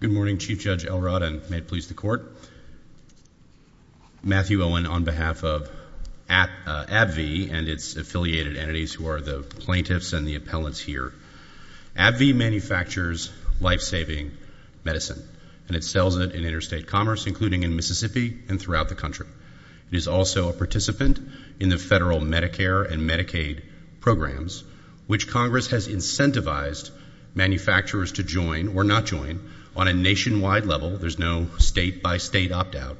Good morning, Chief Judge Elrod, and may it please the Court. Matthew Owen, on behalf of AbbVie and its affiliated entities, who are the plaintiffs and the appellants here, AbbVie manufactures life-saving medicine, and it sells it in interstate commerce, including in Mississippi and throughout the country. It is also a participant in the federal Medicare and Medicaid programs, which Congress has incentivized manufacturers to join or not join on a nationwide level, there's no state-by-state opt-out,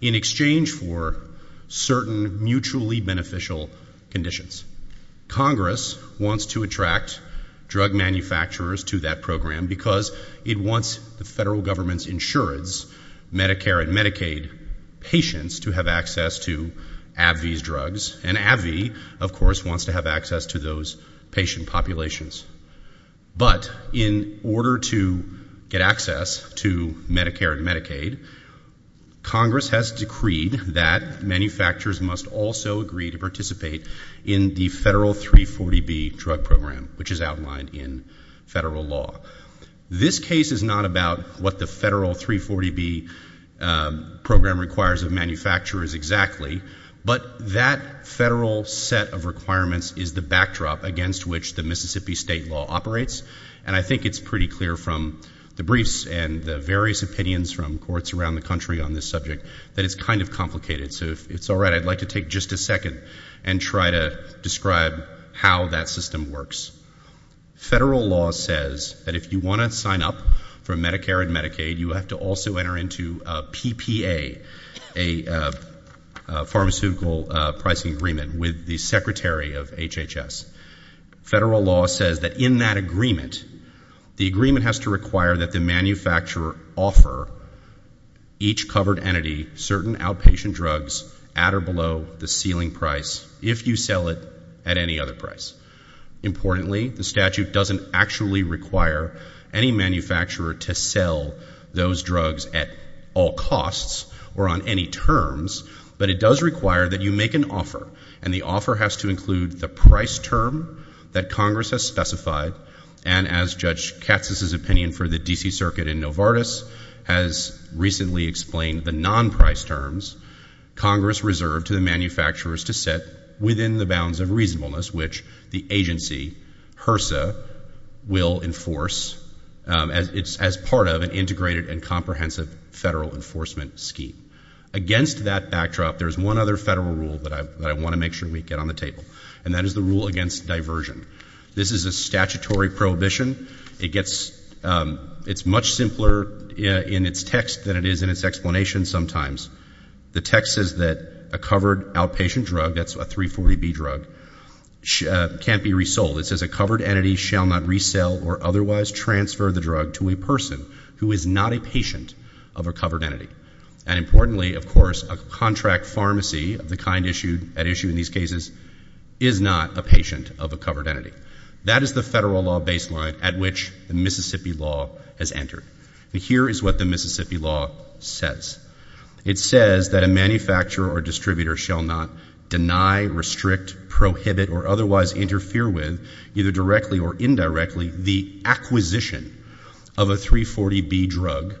in exchange for certain mutually beneficial conditions. Congress wants to attract drug manufacturers to that program because it wants the federal government's insurance, Medicare and Medicaid patients, to have access to AbbVie's drugs, and AbbVie, of course, wants to have access to those patient populations. But in order to get access to Medicare and Medicaid, Congress has decreed that manufacturers must also agree to participate in the federal 340B drug program, which is outlined in federal law. This case is not about what the federal 340B program requires of manufacturers exactly, but that federal set of requirements is the backdrop against which the Mississippi state law operates, and I think it's pretty clear from the briefs and the various opinions from courts around the country on this subject that it's kind of complicated. So if it's all right, I'd like to take just a second and try to describe how that system works. Federal law says that if you want to sign up for Medicare and Medicaid, you have to also enter into PPA, a pharmaceutical pricing agreement, with the secretary of HHS. Federal law says that in that agreement, the agreement has to require that the manufacturer offer each covered entity certain outpatient drugs at or below the ceiling price, if you sell it at any other price. Importantly, the statute doesn't actually require any manufacturer to sell those drugs at all costs or on any terms, but it does require that you make an offer, and the offer has to include the price term that Congress has specified, and as Judge Katz's opinion for the D.C. Circuit in Novartis has recently explained, the non-price terms Congress reserved to the manufacturers to set within the bounds of reasonableness, which the agency, HRSA, will enforce as part of an integrated and comprehensive federal enforcement scheme. Against that backdrop, there's one other federal rule that I want to make sure we get on the table, and that is the rule against diversion. This is a statutory prohibition. It gets, it's much simpler in its text than it is in its explanation sometimes. The text says that a covered outpatient drug, that's a 340B drug, can't be resold. It says a covered entity shall not resell or otherwise transfer the drug to a person who is not a patient of a covered entity, and importantly, of course, a contract pharmacy of the kind issued, at issue in these cases, is not a patient of a covered entity. That is the federal law baseline at which the Mississippi law has entered, and here is what the Mississippi law says. It says that a manufacturer or distributor shall not deny, restrict, prohibit, or otherwise interfere with, either directly or indirectly, the acquisition of a 340B drug,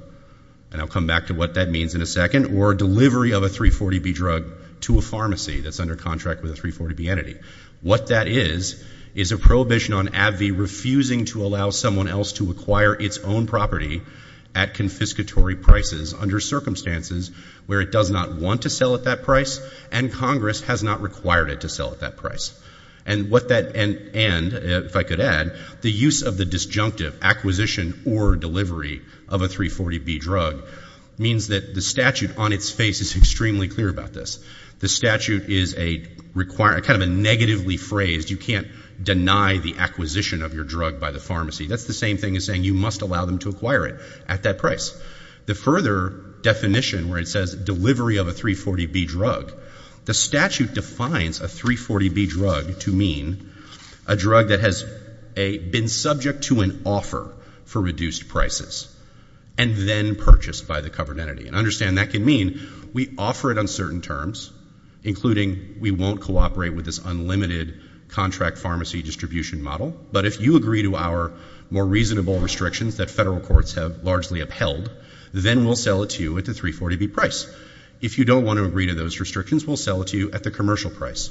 and I'll come back to what that means in a second, or delivery of a 340B drug to a pharmacy that's under contract with a 340B entity. What that is, is a prohibition on AbbVie refusing to allow someone else to acquire its own property at confiscatory prices under circumstances where it does not want to sell at that price, and Congress has not required it to sell at that price. And what that, and if I could add, the use of the disjunctive acquisition or delivery of a 340B drug means that the statute on its face is extremely clear about this. The statute is a required, kind of a negatively phrased, you can't deny the acquisition of your drug by the pharmacy. That's the same thing as saying you must allow them to acquire it at that price. The further definition where it says delivery of a 340B drug, the statute defines a 340B drug to mean a drug that has been subject to an offer for reduced prices and then purchased by the covered entity. And understand that can mean we offer it on certain terms, including we won't cooperate with this unlimited contract pharmacy distribution model, but if you agree to our more reasonable restrictions that federal courts have largely upheld, then we'll sell it to you at the 340B price. If you don't want to agree to those restrictions, we'll sell it to you at the commercial price.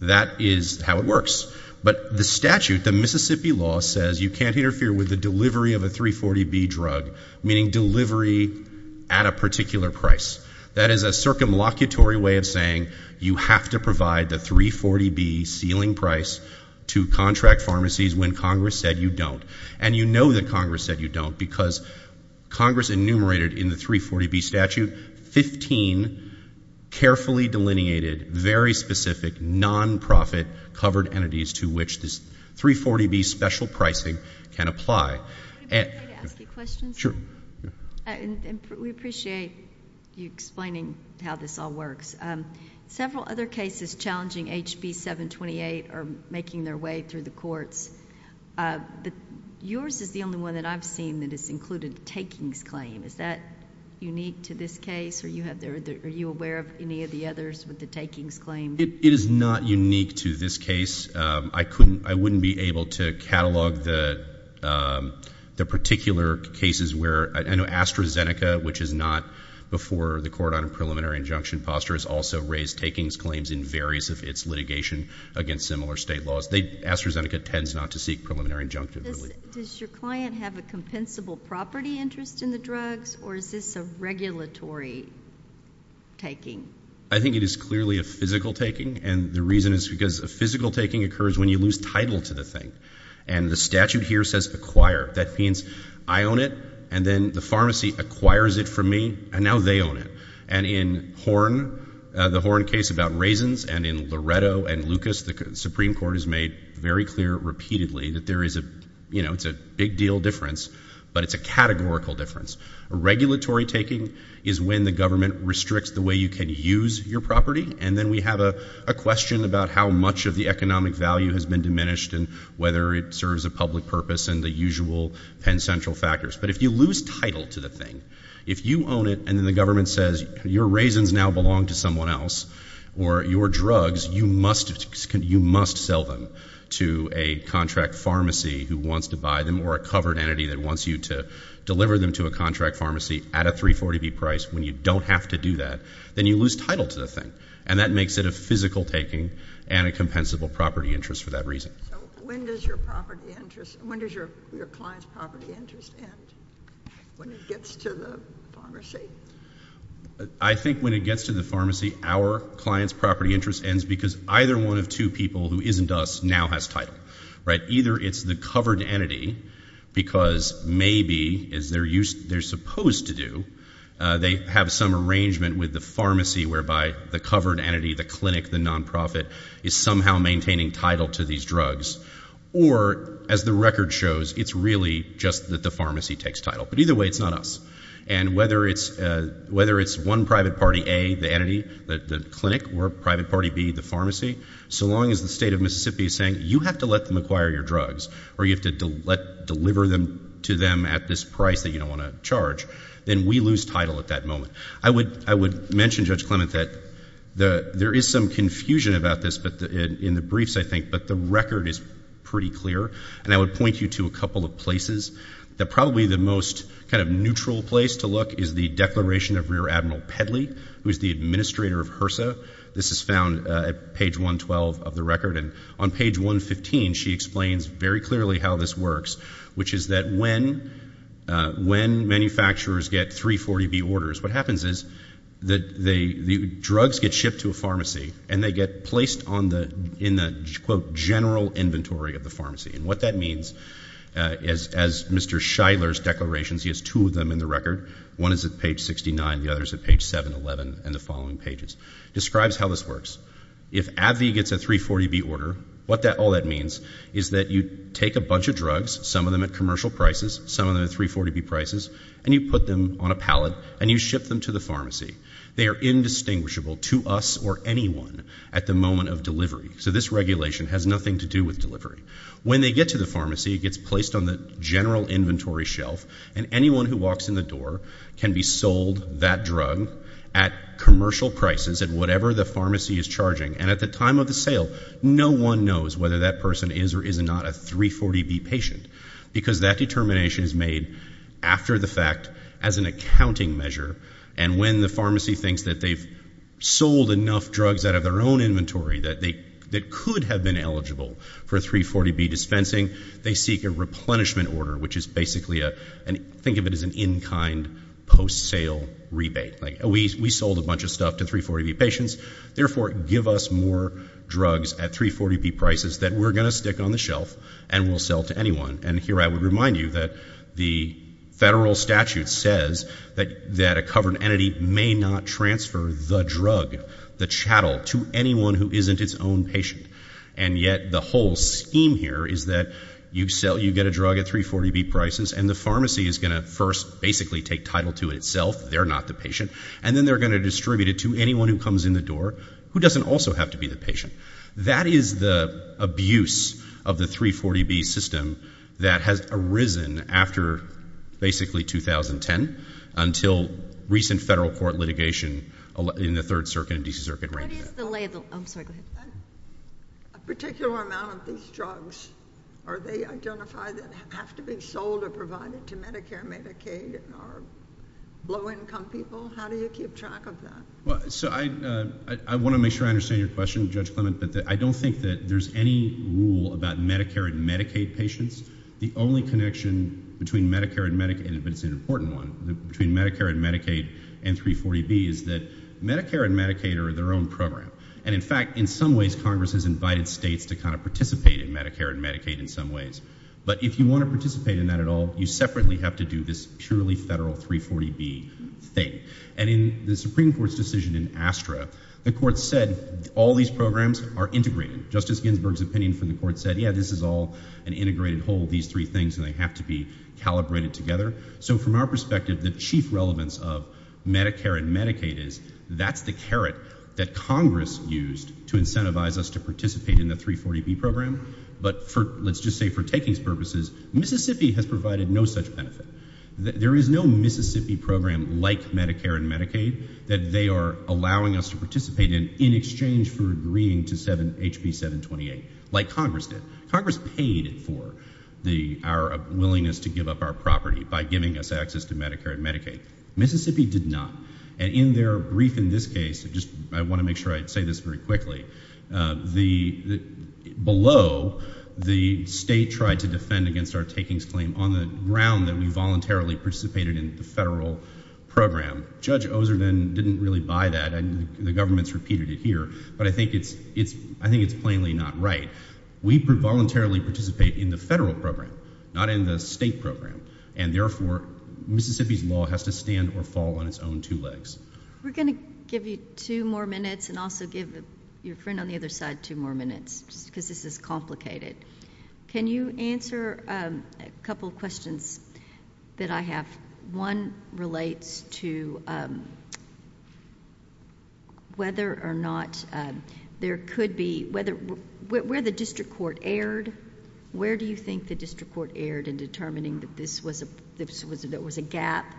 That is how it works. But the statute, the Mississippi law, says you can't interfere with the delivery of a 340B drug, meaning delivery at a particular price. That is a circumlocutory way of saying you have to provide the 340B ceiling price to contract pharmacies when Congress said you don't. And you know that Congress said you don't, because Congress enumerated in the 340B statute 15 carefully delineated, very specific, non-profit covered entities to which this 340B special pricing can apply. Can I ask you a question, sir? Sure. We appreciate you explaining how this all works. Several other cases challenging HB728 are making their way through the courts. Yours is the only one that I've seen that has included takings claim. Is that unique to this case, or are you aware of any of the others with the takings claim? It is not unique to this case. I wouldn't be able to catalog the particular cases where AstraZeneca, which is not before the court on a preliminary injunction posture, has also raised takings claims in various of its litigation against similar state laws. AstraZeneca tends not to seek preliminary injunctions. Does your client have a compensable property interest in the drugs, or is this a regulatory taking? I think it is clearly a physical taking, and the reason is because a physical taking occurs when you lose title to the thing. And the statute here says acquire. That means I own it, and then the pharmacy acquires it from me, and now they own it. And in the Horn case about raisins, and in Loretto and Lucas, the Supreme Court has made very clear repeatedly that it's a big deal difference, but it's a categorical difference. Regulatory taking is when the government restricts the way you can use your property, and then we have a question about how much of the economic value has been diminished and whether it serves a public purpose and the usual Penn Central factors. But if you lose title to the thing, if you own it and then the government says your raisins now belong to someone else, or your drugs, you must sell them to a contract pharmacy who wants to buy them, or a covered entity that wants you to deliver them to a contract pharmacy at a 340B price when you don't have to do that, then you lose title to the thing. And that makes it a physical taking and a compensable property interest for that reason. So when does your property interest, when does your client's property interest end? When it gets to the pharmacy? I think when it gets to the pharmacy, our client's property interest ends because either one of two people who isn't us now has title, right? Either it's the covered entity, because maybe, as they're supposed to do, they have some arrangement with the pharmacy whereby the covered entity, the clinic, the non-profit, is somehow maintaining title to these drugs. Or as the record shows, it's really just that the pharmacy takes title. But either way, it's not us. And whether it's one private party A, the entity, the clinic, or private party B, the pharmacy, so long as the state of Mississippi is saying you have to let them acquire your drugs, or you have to deliver them to them at this price that you don't want to charge, then we lose title at that moment. I would mention, Judge Clement, that there is some confusion about this in the briefs, I think, but the record is pretty clear. And I would point you to a couple of places. Probably the most kind of neutral place to look is the declaration of Rear Admiral Pedley, who is the administrator of HRSA. This is found at page 112 of the record. And on page 115, she explains very clearly how this works, which is that when manufacturers get 340B orders, what happens is that the drugs get shipped to a pharmacy, and they get placed on the, in the, quote, general inventory of the pharmacy. And what that means is, as Mr. Shidler's declarations, he has two of them in the record. One is at page 69, the other is at page 711, and the following pages. Describes how this works. If AbbVie gets a 340B order, what that, all that means is that you take a bunch of drugs, some of them at commercial prices, some of them at 340B prices, and you put them on a pallet, and you ship them to the pharmacy. They are indistinguishable to us or anyone at the moment of delivery. So this regulation has nothing to do with delivery. When they get to the pharmacy, it gets placed on the general inventory shelf, and anyone who walks in the door can be sold that drug at commercial prices, at whatever the pharmacy is charging. And at the time of the sale, no one knows whether that person is or is not a 340B patient. Because that determination is made after the fact, as an accounting measure, and when the pharmacy thinks that they've sold enough drugs out of their own inventory that they, that could have been eligible for 340B dispensing, they seek a replenishment order, which is basically a, think of it as an in-kind post-sale rebate. Like, we sold a bunch of stuff to 340B patients, therefore give us more drugs at 340B prices that we're going to stick on the shelf and we'll sell to anyone. And here I would remind you that the federal statute says that a covered entity may not transfer the drug, the chattel, to anyone who isn't its own patient. And yet the whole scheme here is that you sell, you get a drug at 340B prices, and the pharmacy is going to first basically take title to itself, they're not the patient, and then they're going to distribute it to anyone who comes in the door, who doesn't also have to be the patient. That is the abuse of the 340B system that has arisen after basically 2010, until recent federal court litigation in the Third Circuit and D.C. Circuit ran into that. What is the label? I'm sorry, go ahead. A particular amount of these drugs, are they identified that have to be sold or provided to Medicare and Medicaid or low-income people? How do you keep track of that? So I want to make sure I understand your question, Judge Clement, but I don't think that there's any rule about Medicare and Medicaid patients. The only connection between Medicare and Medicaid, but it's an important one, between Medicare and Medicaid and 340B is that Medicare and Medicaid are their own program. And in fact, in some ways Congress has invited states to kind of participate in Medicare and Medicaid in some ways. But if you want to participate in that at all, you separately have to do this purely federal 340B thing. And in the Supreme Court's decision in Astra, the court said all these programs are integrated. Justice Ginsburg's opinion from the court said, yeah, this is all an integrated whole, these three things, and they have to be calibrated together. So from our perspective, the chief relevance of Medicare and Medicaid is that's the carrot that Congress used to incentivize us to participate in the 340B program. But let's just say for takings purposes, Mississippi has provided no such benefit. There is no Mississippi program like Medicare and Medicaid that they are allowing us to participate in in exchange for agreeing to HB 728, like Congress did. Congress paid for our willingness to give up our property by giving us access to Medicare and Medicaid. Mississippi did not. And in their brief in this case, I want to make sure I say this very quickly. Below, the state tried to defend against our takings claim on the ground that we voluntarily participated in the federal program. Judge Ozer didn't really buy that. The government's repeated it here. But I think it's plainly not right. We voluntarily participate in the federal program, not in the state program. And therefore, Mississippi's law has to stand or fall on its own two legs. We're going to give you two more minutes and also give your friend on the other side two more minutes, because this is complicated. Can you answer a couple of questions that I have? One relates to whether or not there could be... where the district court erred? Where do you think the district court erred in determining that there was a gap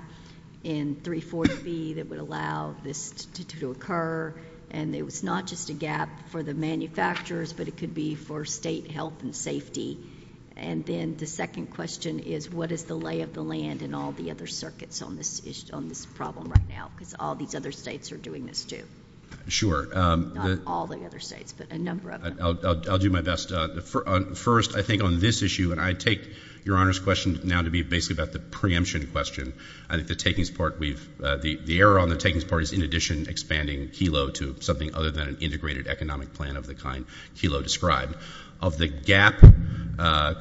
in 340B that would allow this to occur? And it was not just a gap for the manufacturers, but it could be for state health and safety. And then the second question is, what is the lay of the land in all the other circuits on this problem right now? Because all these other states are doing this, too. Sure. Not all the other states, but a number of them. I'll do my best. First, I think on this issue, and I take Your Honor's question now to be basically about the preemption question. I think the error on the takings part is, in addition, expanding Kelo to something other than an integrated economic plan of the kind Kelo described. Of the gap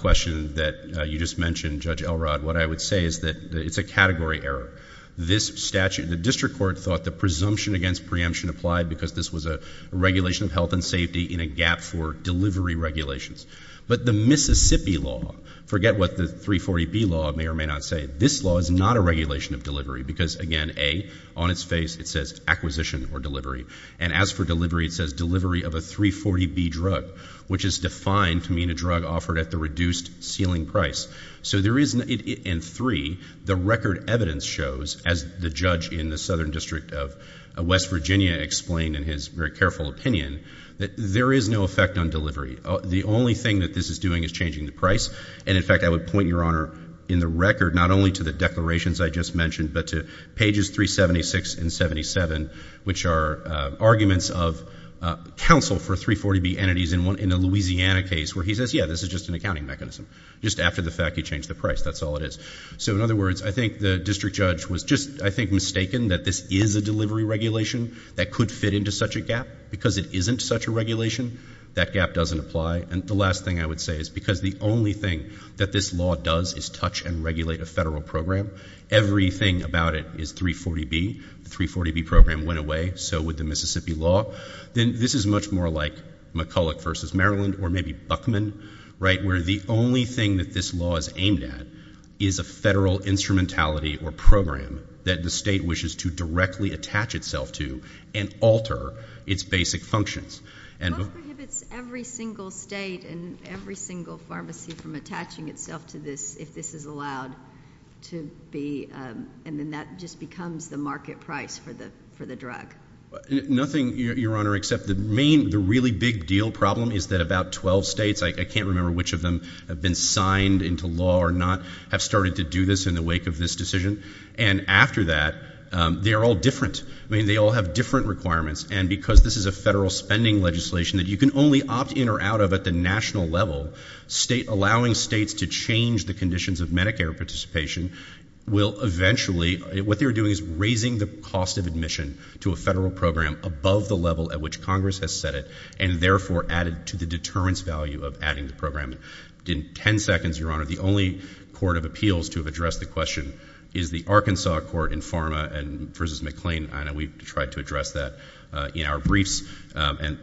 question that you just mentioned, Judge Elrod, what I would say is that it's a category error. The district court thought the presumption against preemption applied because this was a regulation of health and safety in a gap for delivery regulations. But the Mississippi law, forget what the 340B law may or may not say, this law is not a regulation of delivery because, again, A, on its face it says acquisition or delivery. And as for delivery, it says delivery of a 340B drug, which is defined to mean a drug offered at the reduced ceiling price. So there is, and three, the record evidence shows, as the judge in the Southern District of West Virginia explained in his very careful opinion, that there is no effect on delivery. The only thing that this is doing is changing the price. And, in fact, I would point, Your Honor, in the record, not only to the declarations I just mentioned, but to pages 376 and 77, which are arguments of counsel for 340B entities in a Louisiana case where he says, yeah, this is just an accounting mechanism. Just after the fact, he changed the price. That's all it is. So, in other words, I think the district judge was just, I think, mistaken that this is a delivery regulation that could fit into such a gap. Because it isn't such a regulation, that gap doesn't apply. And the last thing I would say is because the only thing that this law does is touch and regulate a federal program, everything about it is 340B. The 340B program went away, so would the Mississippi law. Then this is much more like McCulloch v. Maryland or maybe Buckman, right, where the only thing that this law is aimed at is a federal instrumentality or program that the state wishes to directly attach itself to and alter its basic functions. What prohibits every single state and every single pharmacy from attaching itself to this if this is allowed to be, and then that just becomes the market price for the drug? Nothing, Your Honor, except the really big deal problem is that about 12 states, I can't remember which of them have been signed into law or not, have started to do this in the wake of this decision. And after that, they are all different. I mean, they all have different requirements. And because this is a federal spending legislation that you can only opt in or out of at the national level, allowing states to change the conditions of Medicare participation will eventually, what they're doing is raising the cost of admission to a federal program above the level at which Congress has set it and therefore added to the deterrence value of adding the program. In 10 seconds, Your Honor, the only court of appeals to have addressed the question is the Arkansas court in Pharma v. McLean. I know we've tried to address that in our briefs. And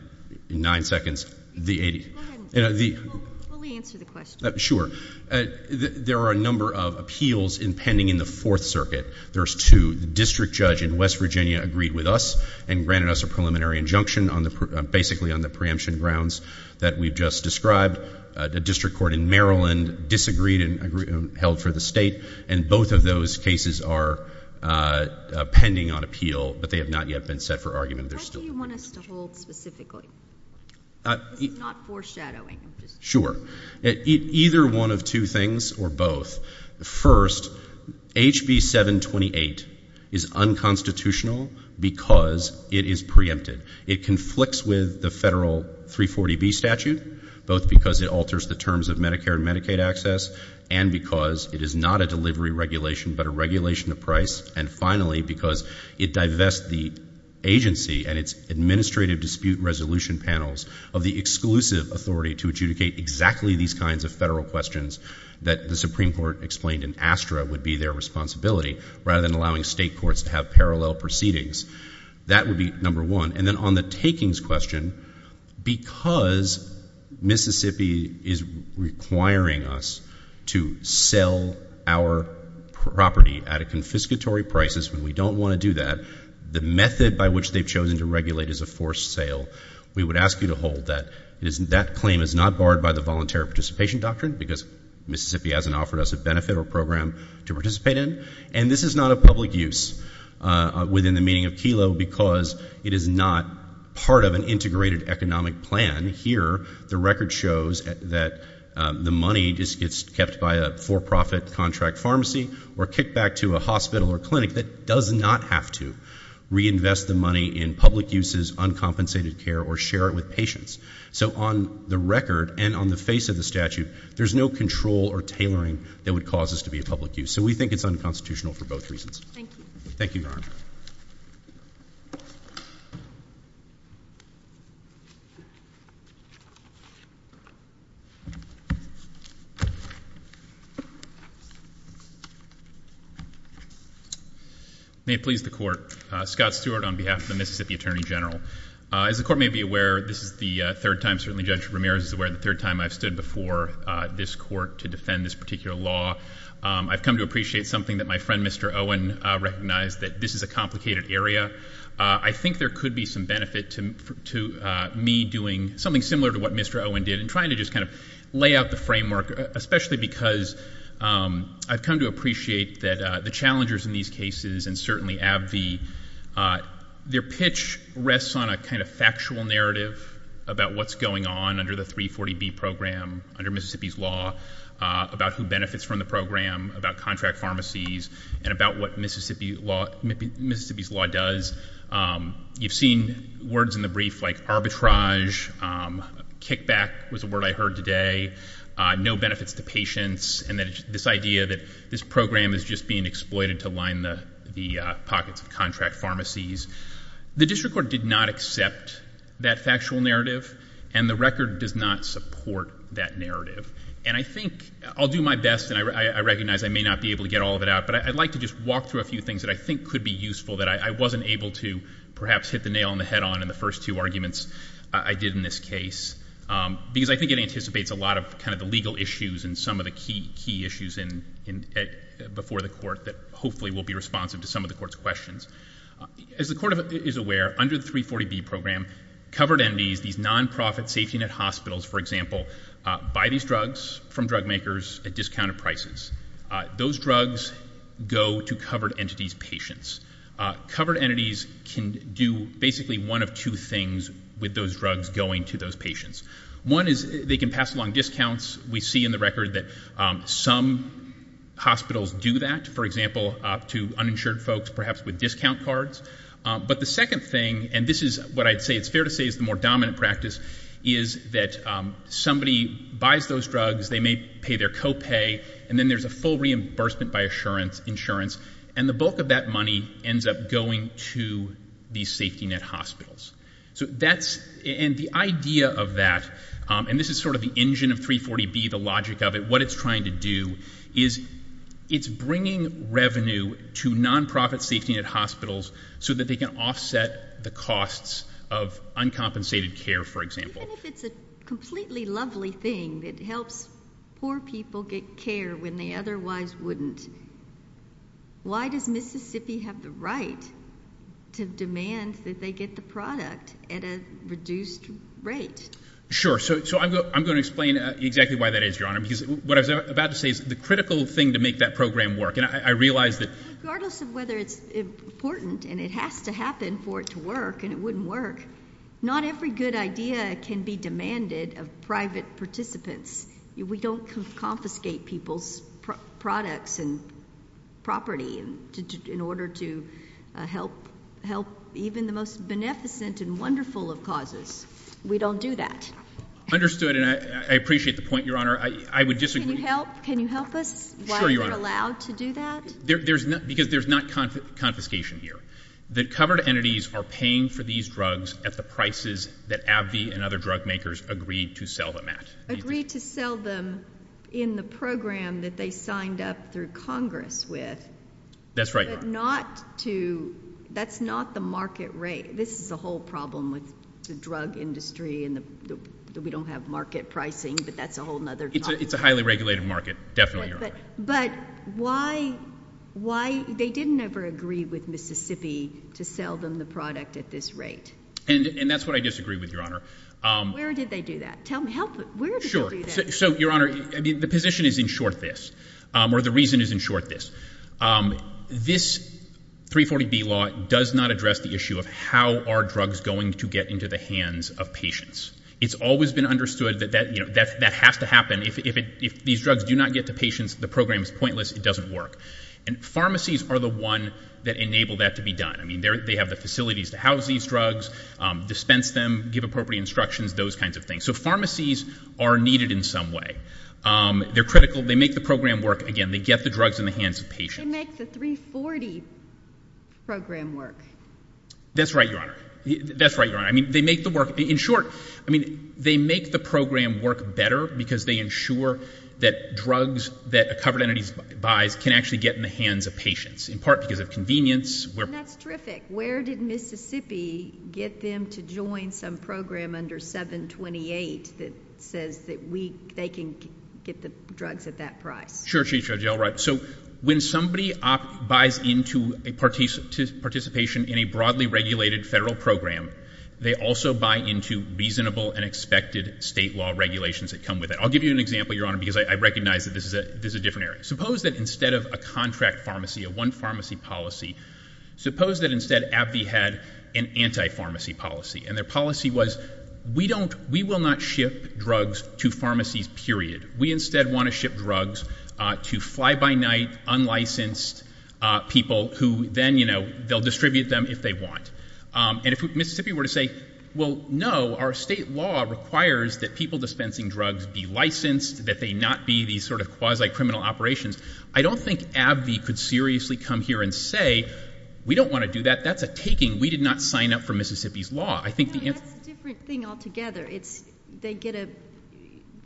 in 9 seconds, the 80. Go ahead. Let me answer the question. Sure. There are a number of appeals impending in the Fourth Circuit. There's two. The District Judge in West Virginia agreed with us and granted us a preliminary injunction on the preemption grounds that we've just described. The District Court in Maryland disagreed and held for the state. And both of those cases are pending on appeal, but they have not yet been set for argument. What do you want us to hold specifically? This is not foreshadowing. Sure. Either one of two things or both. First, HB 728 is unconstitutional because it is preempted. It conflicts with the federal 340B statute, both because it alters the terms of Medicare and Medicaid access and because it is not a delivery regulation but a regulation of price. And finally, because it divests the agency and its administrative dispute resolution panels of the exclusive authority to adjudicate exactly these kinds of federal questions that the Supreme Court explained in ASTRA would be their responsibility, rather than allowing state courts to have parallel proceedings. That would be number one. And then on the takings question, because Mississippi is requiring us to sell our property at a confiscatory prices when we don't want to do that, the method by which they've chosen to regulate is a forced sale. We would ask you to hold that. That claim is not barred by the voluntary participation doctrine because Mississippi hasn't offered us a benefit or program to participate in. And this is not a public use within the meaning of KELO because it is not part of an integrated economic plan. Here, the record shows that the money just gets kept by a for-profit contract pharmacy or kicked back to a hospital or clinic that does not have to reinvest the money in public uses, uncompensated care, or share it with patients. So on the record and on the face of the statute, there's no control or tailoring that would cause this to be a public use. So we think it's unconstitutional for both reasons. Thank you. May it please the court. Scott Stewart on behalf of the Mississippi Attorney General. As the court may be aware, this is the third time, certainly Judge Ramirez is aware, the third time I've stood before this court to defend this particular law. I've come to appreciate something that my friend Mr. Owen recognized that this is a complicated area. I think there could be some benefit to me doing something similar to what Mr. Owen did and trying to just kind of lay out the framework, especially because I've come to appreciate that the challengers in these cases and certainly AbbVie, their pitch rests on a kind of factual narrative about what's going on under the 340B program under Mississippi's law, about who benefits from the program, about contract pharmacies, and about what Mississippi's law does. You've seen words in the brief like arbitrage, kickback was a word I heard today, no benefits to patients, and this idea that this program is just being exploited to line the pockets of contract pharmacies. The district court did not accept that factual narrative, and the record does not support that narrative. And I think I'll do my best, and I recognize I may not be able to get all of it out, but I'd like to just walk through a few things that I think could be useful that I wasn't able to perhaps hit the nail on the head on in the first two arguments I did in this case, because I think it anticipates a lot of kind of the legal issues and some of the key issues before the court that hopefully will be responsive to some of the court's questions. As the court is aware, under the 40B program, covered entities, these non-profit safety net hospitals, for example, buy these drugs from drug makers at discounted prices. Those drugs go to covered entities' patients. Covered entities can do basically one of two things with those drugs going to those patients. One is they can pass along discounts. We see in the record that some hospitals do that, for example, to uninsured folks, perhaps with discount cards. But the second thing, and this is what I'd say it's fair to say is the more dominant practice, is that somebody buys those drugs, they may pay their copay, and then there's a full reimbursement by insurance, and the bulk of that money ends up going to these safety net hospitals. So that's, and the idea of that, and this is sort of the engine of 340B, the logic of it, what it's trying to do is it's bringing revenue to non-profit safety net hospitals so that they can offset the costs of uncompensated care, for example. Even if it's a completely lovely thing that helps poor people get care when they otherwise wouldn't, why does Mississippi have the right to demand that they get the product at a reduced rate? Sure. So I'm going to explain exactly why that is, Your Honor, because what I was about to say is the critical thing to make that program work, and I realize that... Regardless of whether it's important, and it has to happen for it to work, and it wouldn't work, not every good idea can be demanded of private participants. We don't confiscate people's products and property in order to help even the most beneficent and wonderful of causes. We don't do that. Understood, and I appreciate the point, Your Honor. I would disagree. Can you help us while you're allowed to do that? Because there's not confiscation here. The covered entities are paying for these drugs at the prices that AbbVie and other drug makers agreed to sell them at. Agreed to sell them in the program that they signed up through Congress with. That's right, Your Honor. That's not the market rate. This is the whole problem with the drug industry, that we don't have market pricing, but that's a whole other topic. It's a highly regulated market. Definitely, Your Honor. But why... They didn't ever agree with Mississippi to sell them the product at this rate. And that's what I disagree with, Your Honor. Where did they do that? Tell me. Help me. Where did they do that? So, Your Honor, the position is in short this, or the reason is in short this. This 340B law does not address the issue of how are drugs going to get into the hands of patients. It's always been understood that that has to happen. If these drugs do not get to patients, the program is pointless. It doesn't work. And pharmacies are the one that enable that to be done. I mean, they have the facilities to house these drugs, dispense them, give appropriate instructions, those kinds of things. So pharmacies are needed in some way. They're critical. They make the program work. Again, they get the drugs in the hands of patients. They make the 340 program work. That's right, Your Honor. That's right, Your Honor. I mean, they make the work... In short, I mean, they make the program work better because they ensure that drugs that a covered entity buys can actually get in the hands of patients, in part because of convenience. And that's terrific. Where did Mississippi get them to join some program under 728 that says that they can get the drugs at that price? Sure, Chief Judge. You're all right. So when somebody buys into a participation in a broadly regulated federal program, they also buy into reasonable and expected state law regulations that come with it. I'll give you an example, Your Honor, because I recognize that this is a different area. Suppose that instead of a contract pharmacy, a one pharmacy policy, suppose that instead AbbVie had an anti-pharmacy policy. And their policy was, we will not ship drugs to pharmacies, period. We instead want to ship drugs to fly-by-night, unlicensed people who then, you know, they'll distribute them if they want. And if Mississippi were to say, well, no, our state law requires that people dispensing drugs be licensed, that they not be these sort of quasi-criminal operations, I don't think AbbVie could seriously come here and say, we don't want to do that. That's a taking. We did not sign up for Mississippi's law. I think the answer... Well, that's a different thing altogether. It's, they get a,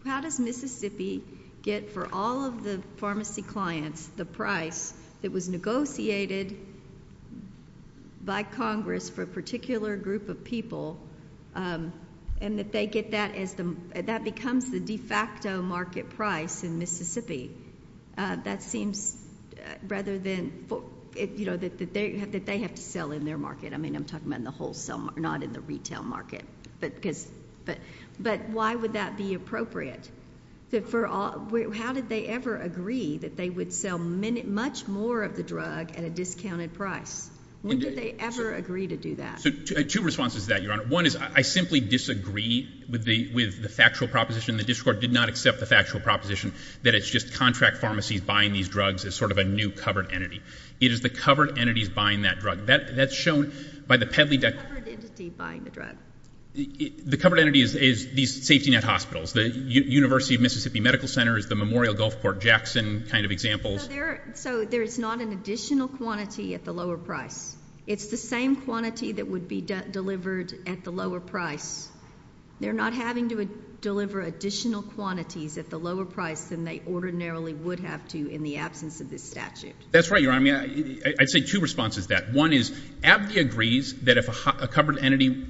how does Mississippi get for all of the pharmacy clients the price that was negotiated by Congress for a particular group of people, and that they get that as the, that becomes the de facto market price in Mississippi. That seems rather than, you know, that they have to sell in their market. I mean, I'm talking about in the wholesale market, not in the retail market. But because, but why would that be appropriate? For all, how did they ever agree that they would sell much more of the drug at a discounted price? When did they ever agree to do that? So, two responses to that, Your Honor. One is, I simply disagree with the factual proposition. The district court did not accept the factual proposition that it's just contract pharmacies buying these drugs as sort of a new covered entity. It is the covered entities buying that drug. That, that's shown by the peddly dec... The covered entity buying the drug. The covered entity is, is these safety net hospitals. The University of Mississippi Medical Center is the Memorial Gulfport Jackson kind of examples. So there, so there is not an additional quantity at the lower price. It's the same quantity that would be delivered at the lower price. They're not having to deliver additional quantities at the lower price than they ordinarily would have to in the absence of this statute. That's right, Your Honor. I mean, I'd say two responses to that. One is, Abdi agrees that if a covered entity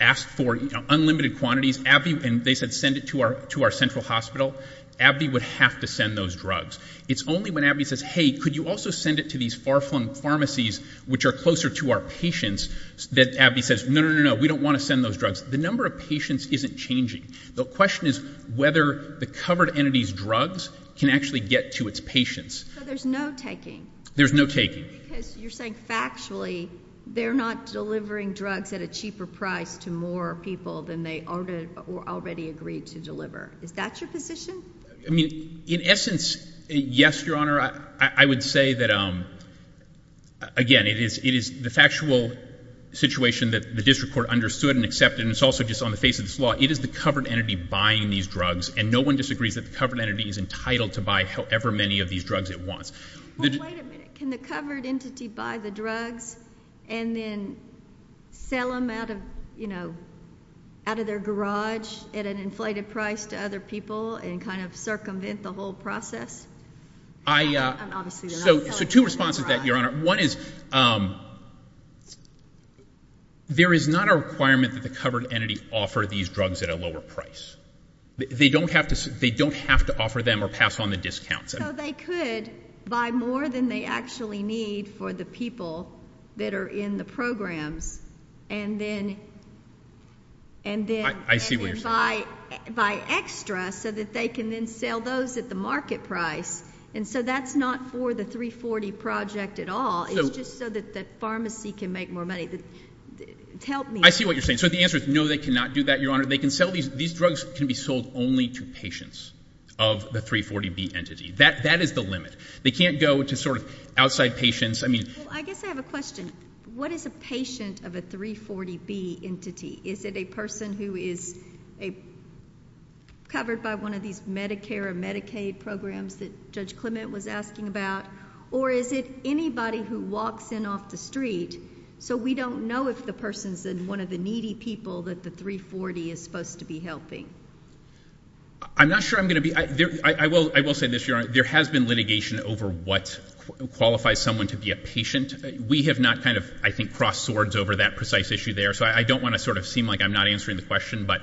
asked for, you know, unlimited quantities, Abdi, and they said send it to our, to our central hospital, Abdi would have to send those drugs. It's only when Abdi says, hey, could you also send it to these far flung pharmacies, which are closer to our patients, that Abdi says, no, no, no, no, no, we don't want to send those drugs. The number of patients isn't changing. The question is whether the covered entity's drugs can actually get to its patients. So there's no taking? There's no taking. Because you're saying factually they're not delivering drugs at a cheaper price to more people than they already agreed to deliver. Is that your position? I mean, in essence, yes, Your Honor. I would say that, again, it is the factual situation that the district court understood and accepted, and it's also just on the face of this law. It is the covered entity buying these drugs, and no one disagrees that the covered entity is entitled to buy however many of these drugs it wants. Well, wait a minute. Can the covered entity buy the drugs and then sell them out of, you know, out of their garage at an inflated price to other people and kind of circumvent the whole process? I, uh, so two responses to that, Your Honor. One is, um, there is not a requirement that the covered entity offer these drugs at a lower price. They don't have to, they don't have to offer them or pass on the discounts. So they could buy more than they actually need for the people that are in the programs and then, and then, and then buy, buy extra so that they can then sell those at the market price. And so that's not for the 340 project at all. It's just so that the pharmacy can make more money. Help me. I see what you're saying. So the answer is no, they cannot do that, Your Honor. They can't go to sort of outside patients. I mean, I guess I have a question. What is a patient of a 340 B entity? Is it a person who is a covered by one of these Medicare and Medicaid programs that judge Clement was asking about? Or is it anybody who walks in off the street? So we don't know if the person's in one of the needy people that the 340 is supposed to be helping. I'm not sure I'm going to be, I will, I will say this, Your Honor, there has been litigation over what qualifies someone to be a patient. We have not kind of, I think, crossed swords over that precise issue there. So I don't want to sort of seem like I'm not answering the question, but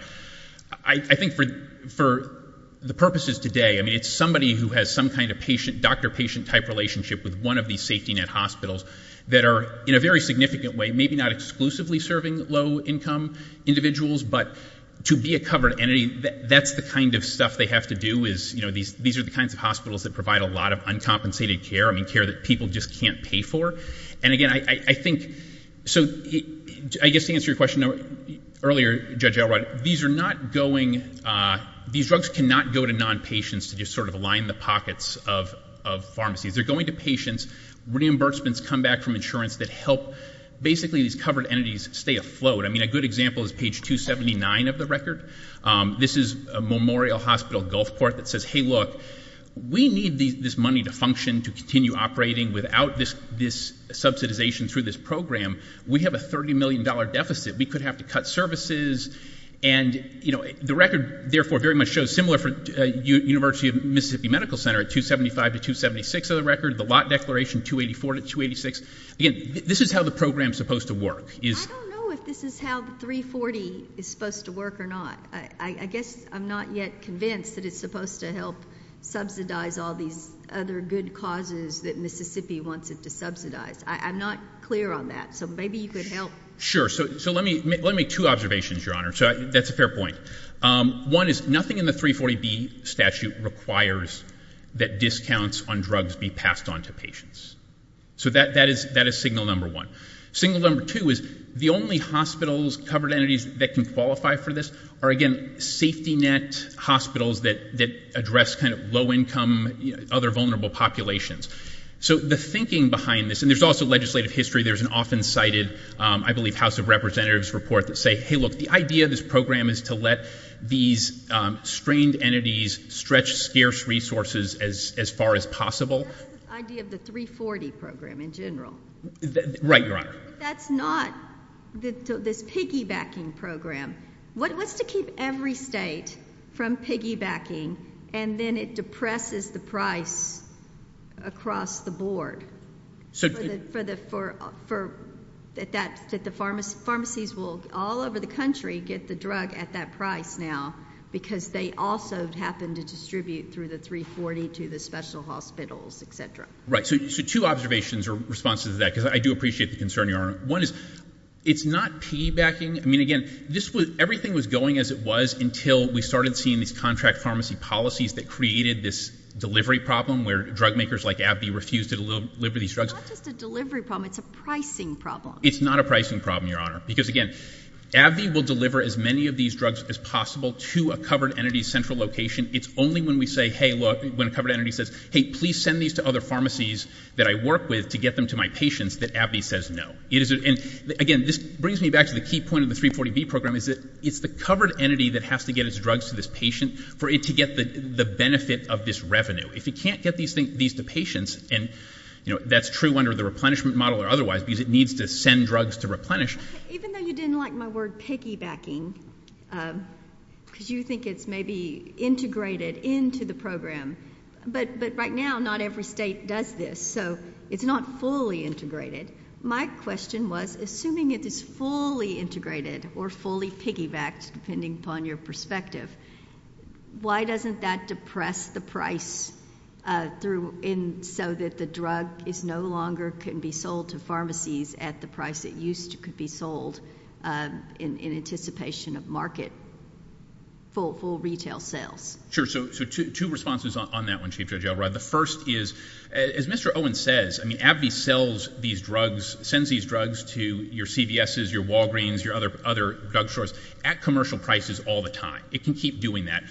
I think for, for the purposes today, I mean, it's somebody who has some kind of patient doctor, patient type relationship with one of these safety net hospitals that are in a very significant way, maybe not exclusively serving low income individuals, but to be a covered entity, that's the kind of stuff they have to do is, you know, these, these are the kinds of hospitals that provide a lot of uncompensated care. I mean, care that people just can't pay for. And again, I think, so I guess to answer your question earlier, Judge Elrod, these are not going, these drugs cannot go to non-patients to just sort of align the pockets of, of pharmacies. They're going to patients. Reimbursements come back from insurance that help basically these covered entities stay afloat. I mean, a good example is page 279 of the record. This is a Memorial Hospital Gulfport that says, Hey, look, we need these, this money to function, to continue operating without this, this subsidization through this program. We have a $30 million deficit. We could have to cut services. And you know, the record therefore very much shows similar for University of Mississippi Medical Center at 275 to 276 of the record, the lot declaration 284 to 286. Again, this is how the program is supposed to work. I don't know if this is how the 340 is supposed to work or not. I guess I'm not yet convinced that it's supposed to help subsidize all these other good causes that Mississippi wants it to subsidize. I'm not clear on that. So maybe you could help. Sure. So, so let me, let me make two observations, Your Honor. So that's a fair point. Um, one is nothing in the 340B statute requires that discounts on drugs be passed on to patients. So that, that is, that is signal number one, single number two is the only hospitals covered entities that can qualify for this are again, safety net hospitals that, that address kind of low income, other vulnerable populations. So the thinking behind this, and there's also legislative history. There's an often cited, um, I believe house of representatives report that say, Hey, look, the idea of this program is to let these, um, strained entities, stretch scarce resources as, as far as possible. The idea of the 340 program in general, right? Your Honor. That's not the, this piggybacking program. What's to keep every state from piggybacking and then it depresses the price across the board for the, for the, for, for that, that the pharmacist pharmacies will all over the country, get the drug at that price now, because they also happen to distribute through the 340 to the special hospitals, et cetera. Right. So, so two observations or responses to that, because I do appreciate the concern. Your Honor. One is it's not piggybacking. I mean, again, this was, everything was going as it was until we started seeing these contract pharmacy policies that created this delivery problem where drug makers like AbbVie refused to deliver these drugs. It's not just a delivery problem. It's a pricing problem. It's not I will deliver as many of these drugs as possible to a covered entity central location. It's only when we say, Hey, look, when a covered entity says, Hey, please send these to other pharmacies that I work with to get them to my patients that AbbVie says, no, it isn't. And again, this brings me back to the key point of the 340 B program is that it's the covered entity that has to get its drugs to this patient for it to get the benefit of this revenue. If you can't get these things, these two patients, and you know, that's true under the replenishment model or otherwise, because it needs to send drugs to replenish. Even though you didn't like my word, piggybacking, because you think it's maybe integrated into the program, but, but right now not every state does this. So it's not fully integrated. My question was, assuming it is fully integrated or fully piggybacked, depending upon your perspective, why doesn't that depress the price through in so that the drug is no longer can be sold to pharmacies at the price that used to could be sold, um, in, in anticipation of market full, full retail sales? Sure. So two responses on that one, Chief Judge Elrod. The first is, as Mr. Owen says, I mean, AbbVie sells these drugs, sends these drugs to your CVSs, your Walgreens, your other, other drug stores at commercial prices all the time. It can keep doing that.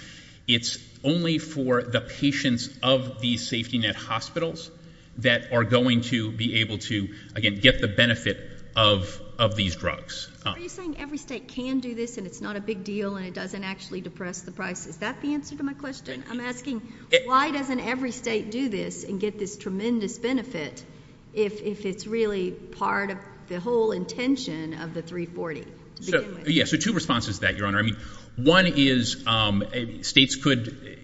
It's only for the patients of these safety net hospitals that are going to be able to, again, get the benefit of, of these drugs. Are you saying every state can do this and it's not a big deal and it doesn't actually depress the price? Is that the answer to my question? I'm asking, why doesn't every state do this and get this tremendous benefit if, if it's really part of the whole intention of the 340? So, yeah, so two responses to that, Your Honor. I mean, one is, um, states could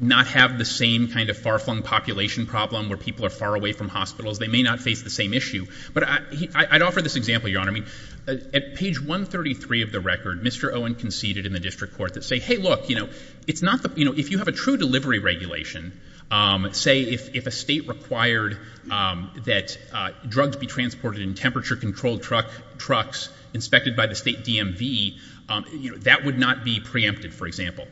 not have the same kind of far-flung population problem where people are far away from hospitals. They may not face the same issue, but I, I, I'd offer this example, Your Honor. I mean, at page 133 of the record, Mr. Owen conceded in the district court that say, hey, look, you know, it's not the, you know, if you have a true delivery regulation, um, say if, if a state required, um, that, uh, drugs be transported in temperature controlled truck, trucks inspected by the state DMV, um, you know, that would not be preempted, for example.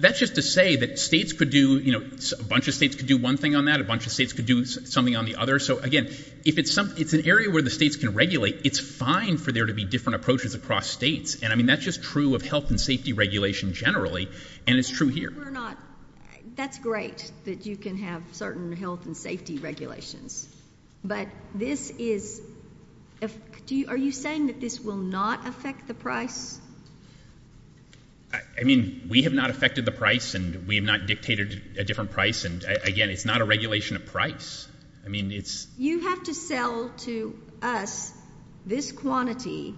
That's just to say that states could do, you know, a bunch of states could do one thing on that. A bunch of states could do something on the other. So again, if it's something, it's an area where the states can regulate, it's fine for there to be different approaches across states. And I mean, that's just true of health and safety regulation generally. And it's true here. We're not, that's great that you can have certain health and safety regulations, but this is, do you, are you saying that this will not affect the price? I mean, we have not affected the price and we have not dictated a different price. And again, it's not a regulation of price. I mean, it's, you have to sell to us this quantity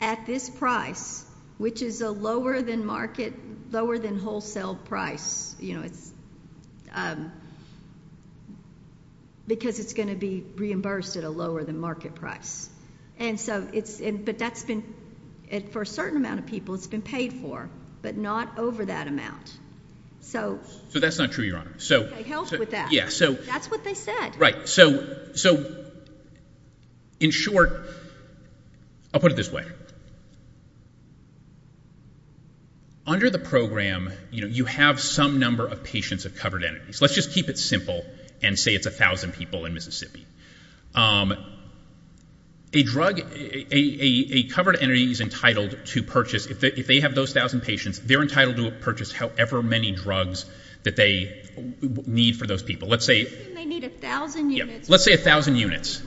at this price, which is a lower than market, lower than wholesale price, you know, it's, um, because it's going to be reimbursed at a lower than market price. And so it's, but that's been it for a certain amount of people. It's been paid for, but not over that amount. So that's not true, Your Honor. So help with that. Yeah. So that's what they said. Right. So, so in short, I'll put it this way under the program, you know, you have some number of patients of covered entities. Let's just keep it simple and say it's a thousand people in Mississippi. Um, a drug, a covered entity is entitled to purchase. If they, if they have those thousand patients, they're entitled to purchase however many drugs that they need for those people. Let's say, let's say a thousand units,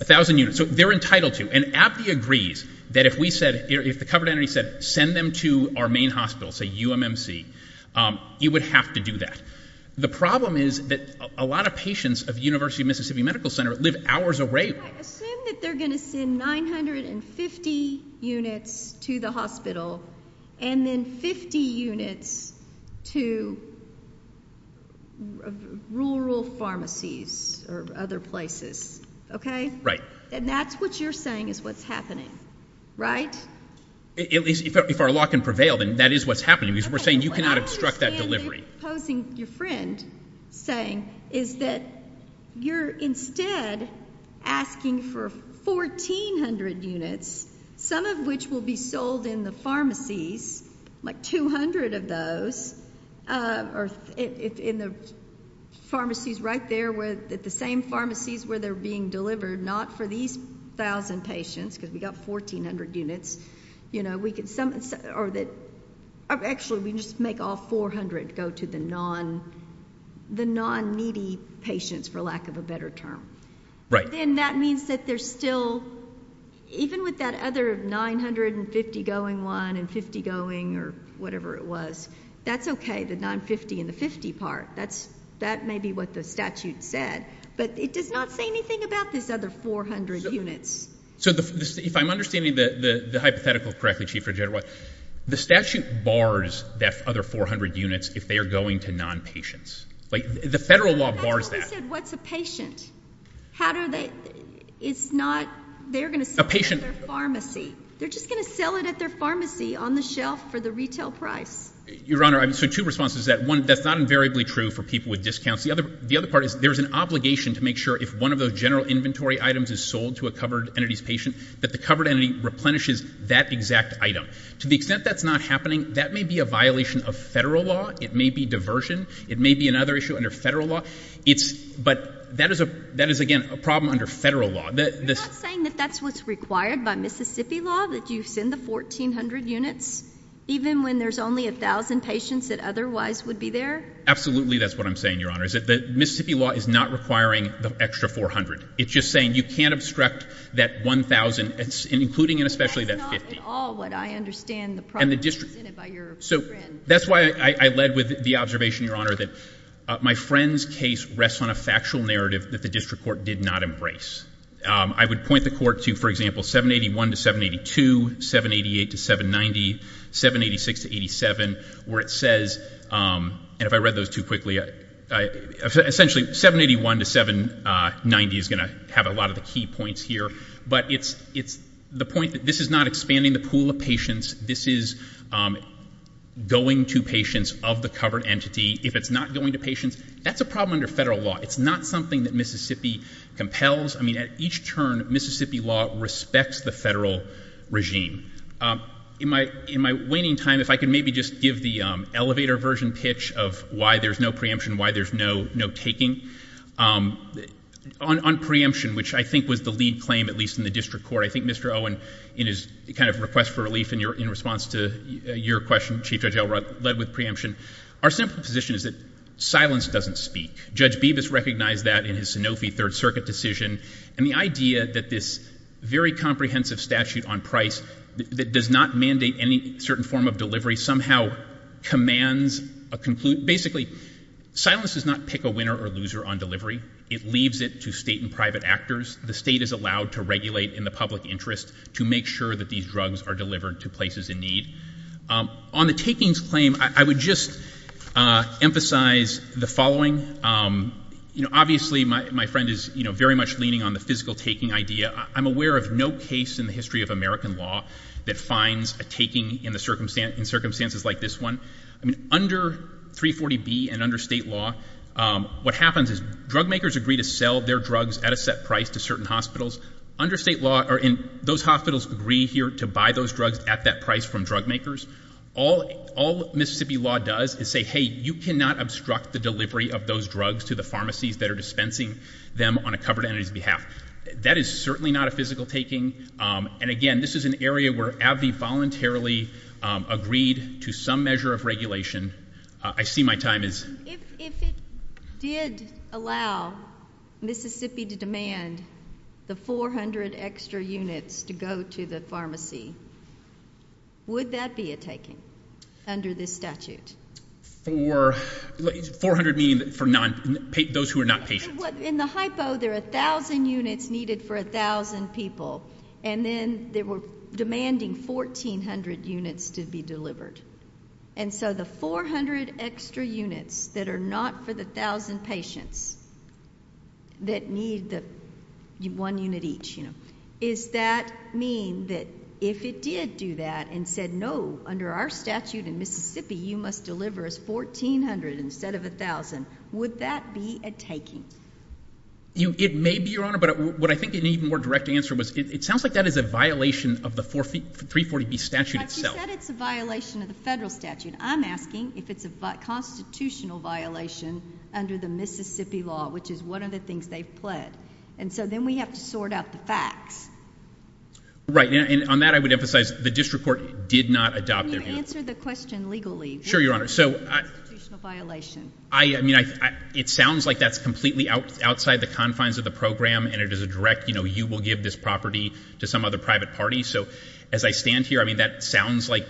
a thousand units. So they're entitled to an app. He agrees that if we said, if the covered entity said, send them to our main hospital, say UMMC, um, you would have to do that. The problem is that a lot of patients of University of Mississippi Medical Center live hours away. I assume that they're going to send 950 units to the hospital and then 50 units to rural pharmacies or other places. Okay. Right. And that's what you're saying is what's happening, right? If our law can prevail, then that is what's happening because we're saying you cannot obstruct that delivery. So what you're posing your friend saying is that you're instead asking for 1400 units, some of which will be sold in the pharmacies, like 200 of those, uh, or if in the pharmacies right there with the same pharmacies where they're being delivered, not for these thousand patients, cause we got 1400 units, you know, we could some, or that actually we just make all 400 go to the non, the non needy patients for lack of a better term. Right. And that means that there's still, even with that other 950 going one and 50 going or whatever it was, that's okay. The 950 and the 50 part, that's, that may be what the statute said, but it does not say anything about this other 400 units. So if I'm understanding the, the, the hypothetical correctly, chief for general, the statute bars that other 400 units if they are going to non patients, like the federal law bars that what's a patient, how do they, it's not, they're going to see a patient pharmacy. They're just going to sell it at their pharmacy on the shelf for the retail price. Your honor. I'm so two responses that one that's not invariably true for people with discounts. The other, the other part is there's an obligation to make sure if one of those general inventory items is sold to a covered entities patient, that the covered entity replenishes that exact item. To the extent that's not happening, that may be a violation of federal law. It may be diversion. It may be another issue under federal law. It's, but that is a, that is again, a problem under federal law. I'm not saying that that's what's required by Mississippi law, that you send the 1400 units even when there's only a thousand patients that otherwise would be there. Absolutely. That's what I'm saying. Your honor is that the Mississippi law is not requiring the extra 400. It's just saying you can't obstruct that 1000 it's including and especially that 50 all what I understand the product and the district. So that's why I led with the observation, your honor, that my friend's case rests on a factual narrative that the district court did not embrace. Um, I would point the court to, for example, 7 81 to 7 82, 7 88 to 7 90, 7 86 to 87 where it says, um, and if I read those two quickly, I essentially 7 81 to 7, uh, 90 is going to have a lot of the key points here, but it's, it's the point that this is not expanding the pool of patients. This is, um, going to patients of the covered entity. If it's not going to patients, that's a problem under federal law. It's not something that Mississippi compels. I mean, at each turn, Mississippi law respects the federal regime. Um, in my, in my waning time, if I can maybe just give the elevator version pitch of why there's no preemption, why there's no, no taking, um, on, on preemption, which I think was the lead claim, at least in the district court. I think Mr. Owen in his kind of request for relief in your, in response to your question, chief judge led with preemption. Our simple position is that silence doesn't speak. Judge Beavis recognized that in his Sanofi third circuit decision and the idea that this very comprehensive statute on price that does not mandate any certain form of delivery somehow commands a conclusion. Basically silence does not pick a winner or loser on delivery. It leaves it to state and private actors. The state is allowed to regulate in the public interest to make sure that these drugs are delivered to places in need. Um, on the takings claim, I would just, uh, emphasize the following. Um, you know, obviously my, my friend is very much leaning on the physical taking idea. I'm aware of no case in the history of American law that finds a taking in the circumstance in circumstances like this one. I mean, under three 40 B and under state law, um, what happens is drug makers agree to sell their drugs at a set price to certain hospitals under state law or in those hospitals agree here to buy those drugs at that price from drug makers. All, all Mississippi law does is say, Hey, you cannot obstruct the delivery of those drugs to the pharmacies that are dispensing them on a covered entity's that is certainly not a physical taking. Um, and again, this is an area where Abby voluntarily agreed to some measure of regulation. I see my time is if it did allow Mississippi to demand the 400 extra units to go to the pharmacy, would that be a taking under this statute for 400, meaning for non those who are not patient in the hypo. There are 1000 units needed for 1000 people, and then they were demanding 1400 units to be delivered. And so the 400 extra units that are not for the 1000 patients that need the one unit each, you know, is that mean that if it did do that and said no, under our statute in Mississippi, you must deliver us 1400 instead of 1000. Would that be a taking? It may be your honor. But what I think it need more direct answer was it sounds like that is a violation of the 43 40 B statute itself. It's a violation of the federal statute. I'm asking if it's a constitutional violation under the Mississippi law, which is one of the things they've pled. And so then we have to sort out the facts right on that. I would emphasize the district court did not adopt their answer the question legally. Sure, your honor. So I mean, it sounds like that's completely out outside the confines of the program, and it is a direct, you know, you will give this property to some other private party. So as I stand here, I mean, that sounds like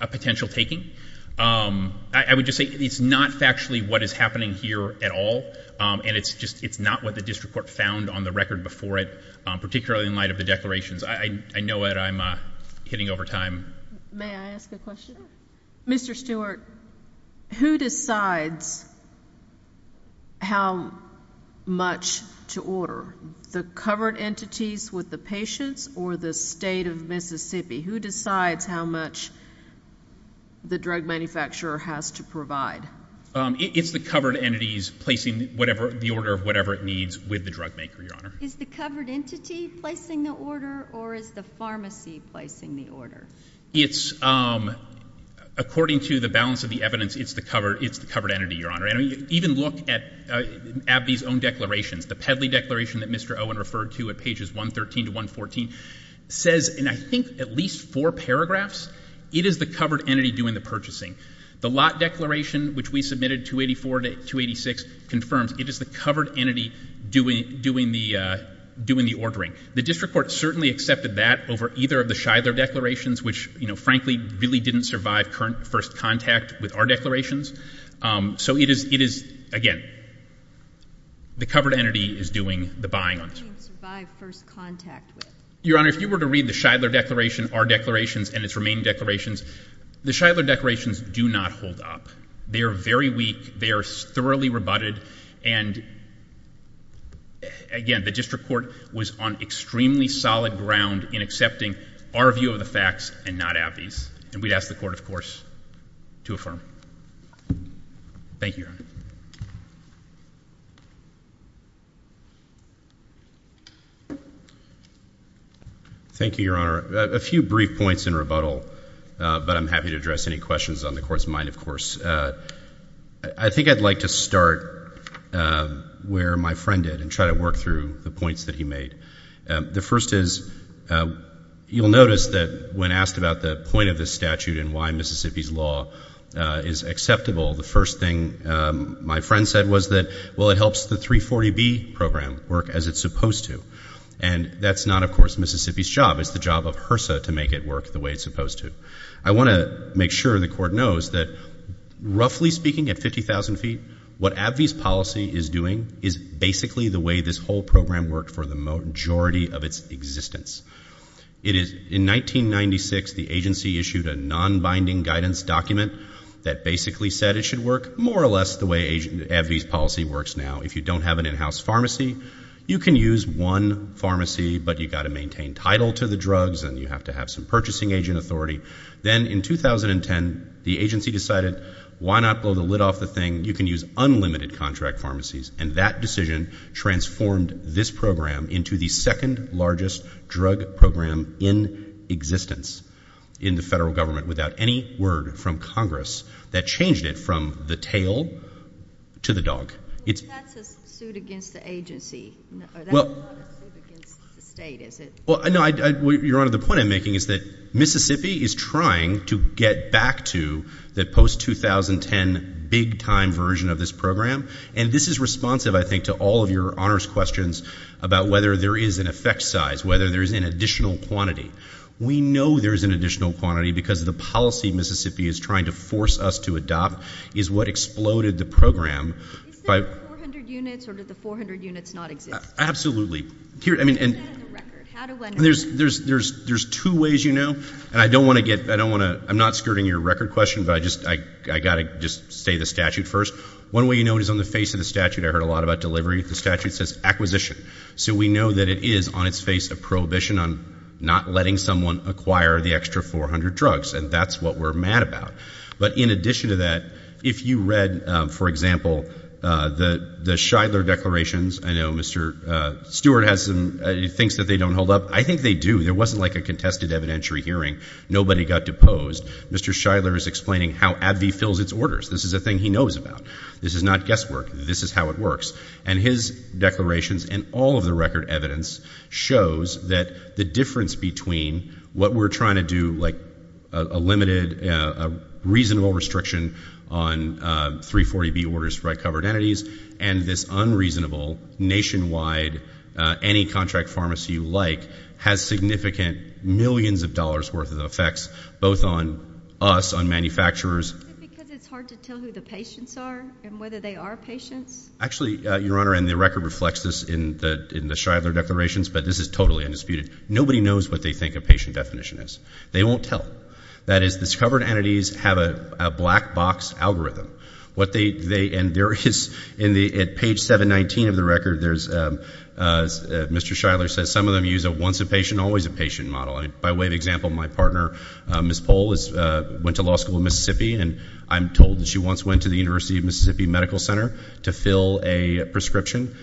a potential taking. Um, I would just say it's not factually what is happening here at all, and it's just it's not what the district court found on the record before it, particularly in light of the declarations. I know it. I'm hitting over time. May I ask a question? Mr Stewart, who decides how much to order the covered entities with the patients or the state of Mississippi? Who decides how much the drug manufacturer has to provide? It's the covered entities placing whatever the order of whatever it needs with the drug maker. Your honor is the covered entity placing the order, or is the pharmacy placing the order? It's um, according to the balance of the evidence, it's the cover. It's the covered entity. Your honor. I don't even look at at these own declarations. The pedley declaration that Mr Owen referred to at pages 1 13 to 1 14 says, and I think at least four paragraphs, it is the covered entity doing the purchasing. The lot declaration, which we submitted to 84 to 2 86 confirms it is the covered entity doing doing the doing the ordering. The district court certainly accepted that over either of the Shidler declarations, which, you know, frankly, really didn't survive current first contact with our declarations. Eso it is. It is again, the covered entity is doing the buying on survive first contact. Your honor, if you were to read the Shidler declaration, our declarations and its main declarations, the Shidler declarations do not hold up. They're very weak. They're thoroughly rebutted. And again, the district court was on extremely solid ground in accepting our view of the facts and not Abbey's. And we asked the court, of course, to affirm. Thank you. Thank you, Your Honor. A few brief points in rebuttal, but I'm happy to address any questions on the court's mind. Of course, I think I'd like to start where my friend did and try to work through the points that he made. The first is you'll notice that when asked about the point of the statute and why Mississippi's law is acceptable, the first thing my friend said was that, well, it helps the 340B program work as it's supposed to. And that's not, of course, Mississippi's job. It's the job of HRSA to make it work the way it's supposed to. I want to make sure the court knows that, roughly speaking, at 50,000 feet, what Abbey's policy is doing is basically the way this whole program worked for the majority of its existence. In 1996, the agency issued a non-binding guidance document that basically said it should work more or less the way Abbey's policy works now. If you don't have an in-house pharmacy, you can use one pharmacy, but you've got to maintain title to the drugs and you have to have some purchasing agent authority. Then in 2010, the agency decided, why not blow the lid off the thing? You can use unlimited contract pharmacies. And that decision transformed this program into the second largest drug program in existence in the federal government without any word from Congress that changed it from the tail to the dog. That's a suit against the agency. That's not a suit against the state, is it? Well, no, Your Honor, the point I'm making is that Mississippi is trying to get back to the post-2010 big time version of this program. And this is responsive, I think, to all of Your Honor's questions about whether there is an effect size, whether there's an additional quantity. We know there's an additional quantity because the policy Mississippi is trying to force us to adopt is what exploded the program by... Is there 400 units or do the 400 units not exist? Absolutely. Here, I mean... How do I know? There's two ways you know, and I don't want to get... I don't want to... I'm not skirting your record question, but I just... I gotta just say the statute first. One way you know it is on the face of the statute. I heard a lot about delivery. The statute says acquisition. So we know that it is on its face a prohibition on not letting someone acquire the extra 400 drugs, and that's what we're mad about. But in addition to that, if you read, for example, the Shidler declarations, I know Mr. Stewart has some... He thinks that they don't hold up. I think they do. There wasn't like a contested evidentiary hearing. Nobody got deposed. Mr. Shidler is explaining how AbbVie fills its orders. This is a thing he knows about. This is not guesswork. This is how it works. And his declarations and all of the record evidence shows that the difference between what we're trying to do, like a limited, reasonable restriction on 340B orders to right covered entities, and this unreasonable nationwide, any contract pharmacy you like, has significant millions of dollars worth of effects, both on us, on manufacturers. Is it because it's hard to tell who the patients are and whether they are patients? Actually, Your Honor, and the record reflects this in the Shidler declarations, but this is totally undisputed. Nobody knows what they think a patient definition is. They won't tell. That is, discovered entities have a black box algorithm. What they... And there is, at page 719 of the record, there's... Mr. Shidler says some of them use a once a patient, always a patient model. By way of example, my partner, Ms. Pohl, went to law school in Mississippi, and I'm told that she once went to the University of Mississippi Medical Center to fill a prescription.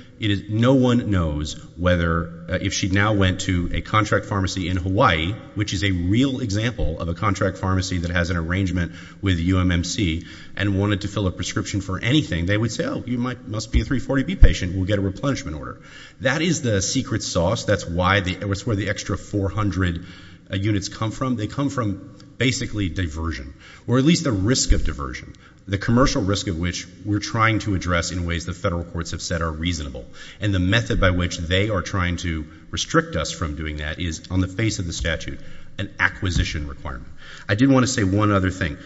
No one knows whether... If she now went to a contract pharmacy in Hawaii, which is a real example of a contract pharmacy that has an arrangement with UMMC, and wanted to fill a prescription for anything, they would say, oh, you must be a 340B patient, we'll get a replenishment order. That is the secret sauce. That's why the... It's where the extra 400 units come from. They come from, basically, diversion, or at least the risk of diversion. The commercial risk of which we're trying to address in ways the federal courts have said are reasonable. And the method by which they are trying to restrict us from doing that is, on the face of the statute, an acquisition requirement. I did wanna say one other thing.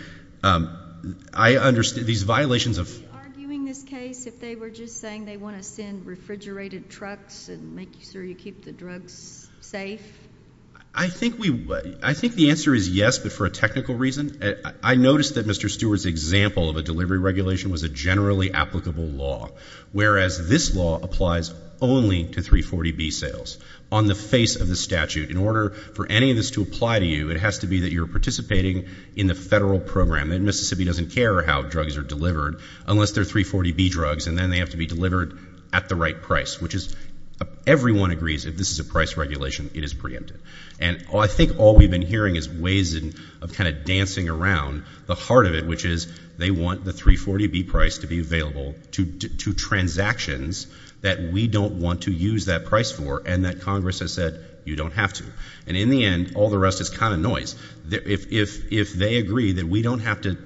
I understand these violations of... Are they arguing this case if they were just saying they wanna send refrigerated trucks and make sure you keep the drugs safe? I think we... I think the answer is yes, but for a technical reason. I noticed that Mr. Stewart's example of a delivery regulation was a generally applicable law, whereas this law applies only to 340B sales. On the face of the statute, in order for any of this to apply to you, it has to be that you're participating in the federal program. And Mississippi doesn't care how drugs are delivered, unless they're 340B drugs, and then they have to be delivered at the right price, which is... Everyone agrees if this is a price regulation, it is preempted. And I think all we've been hearing is ways of dancing around the heart of it, which is they want the 340B price to be available to transactions that we don't want to use that price for, and that Congress has said, you don't have to. And in the end, all the rest is noise. If they agree that we don't have to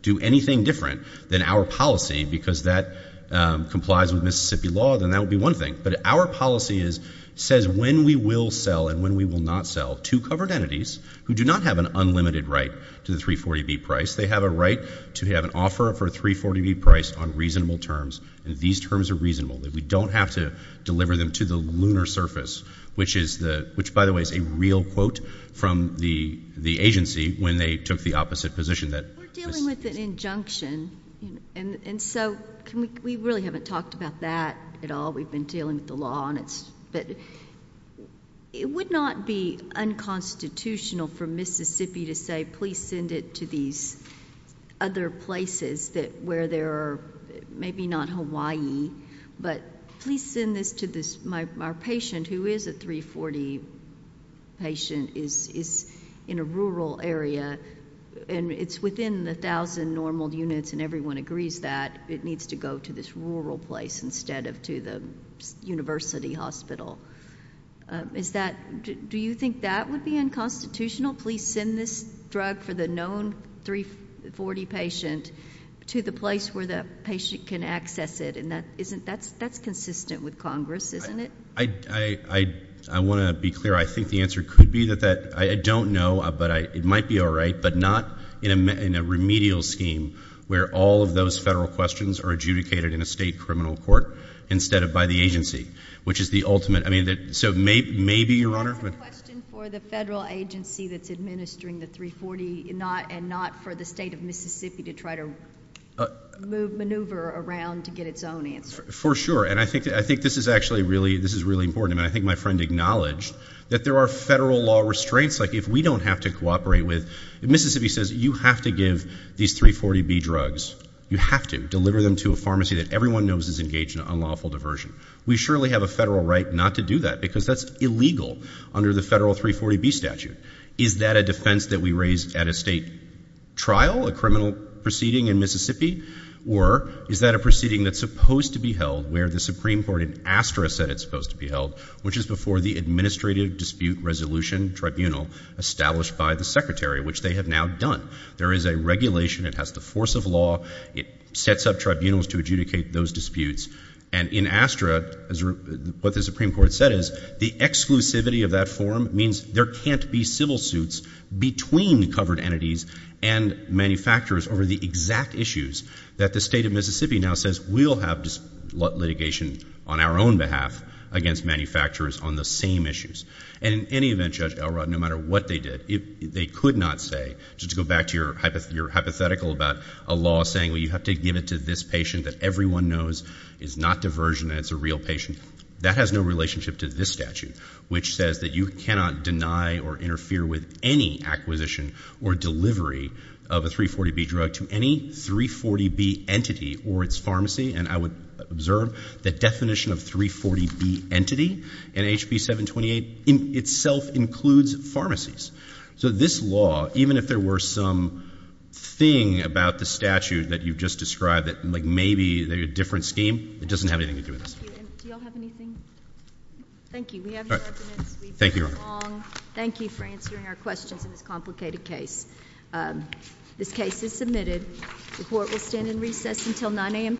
do anything different than our policy because that complies with Mississippi law, then that would be one thing. But our policy says when we will sell and when we will not sell to covered entities who do not have an unlimited right to the 340B price, they have a right to have an offer for a 340B price on reasonable terms, and these terms are reasonable, that we don't have to deliver them to the lunar surface, which, by the way, is a real quote from the agency when they took the opposite position. We're dealing with an injunction, and so we really haven't talked about that at all. We've been dealing with the law, but it would not be unconstitutional for Mississippi to say, please send it to these other places where there are, maybe not Hawaii, but please send this to our patient, who is a 340 patient, is in a rural area, and it's within the 1,000 normal units, and everyone agrees that it needs to go to this rural place instead of to the university hospital. Do you think that would be unconstitutional? Please send this drug for the known 340 patient to the place where the patient can access it, and that's consistent with Congress, isn't it? I want to be clear. I think the answer could be that. I don't know, but it might be all right, but not in a remedial scheme where all of those federal questions are adjudicated in a state criminal court instead of by the agency, which is the ultimate. I mean, so maybe, Your Honor... That's a question for the federal agency that's administering the 340 and not for the state of Mississippi to try to maneuver around to get its own answer. For sure, and I think this is actually really important. I mean, I think my friend acknowledged that there are federal law restraints. Like, if we don't have to cooperate with... Mississippi says you have to give these 340B drugs. You have to deliver them to a pharmacy that everyone knows is engaged in unlawful diversion. We surely have a federal right not to do that because that's illegal under the federal 340B statute. Is that a defense that we raise at a state trial, a criminal proceeding in Mississippi, or is that a proceeding that's supposed to be held where the Supreme Court in Astra said it's supposed to be held, which is before the Administrative Dispute Resolution Tribunal established by the Secretary, which they have now done. There is a regulation. It has the force of law. It sets up tribunals to adjudicate those disputes. And in Astra, what the Supreme Court said is the exclusivity of that forum means there can't be civil suits between covered entities and manufacturers over the exact issues that the state of Mississippi now says we'll have litigation on our own behalf against manufacturers on the same issues. And in any event, Judge Elrod, no matter what they did, they could not say, just to go back to your hypothetical about a law saying, well, you have to give it to this patient that everyone knows is not diversion and it's a real patient. That has no relationship to this statute, which says that you cannot deny or interfere with any acquisition or delivery of a 340B drug to any 340B entity or its pharmacy. And I would observe the definition of 340B entity in HB 728 itself includes pharmacies. So this law, even if there were some thing about the statute that you've just described, like maybe a different scheme, it doesn't have anything to do with this. Do you all have anything? Thank you. We have no arguments. Thank you, Your Honor. We've been long. Thank you for answering our questions in this complicated case. This case is submitted. The court will stand in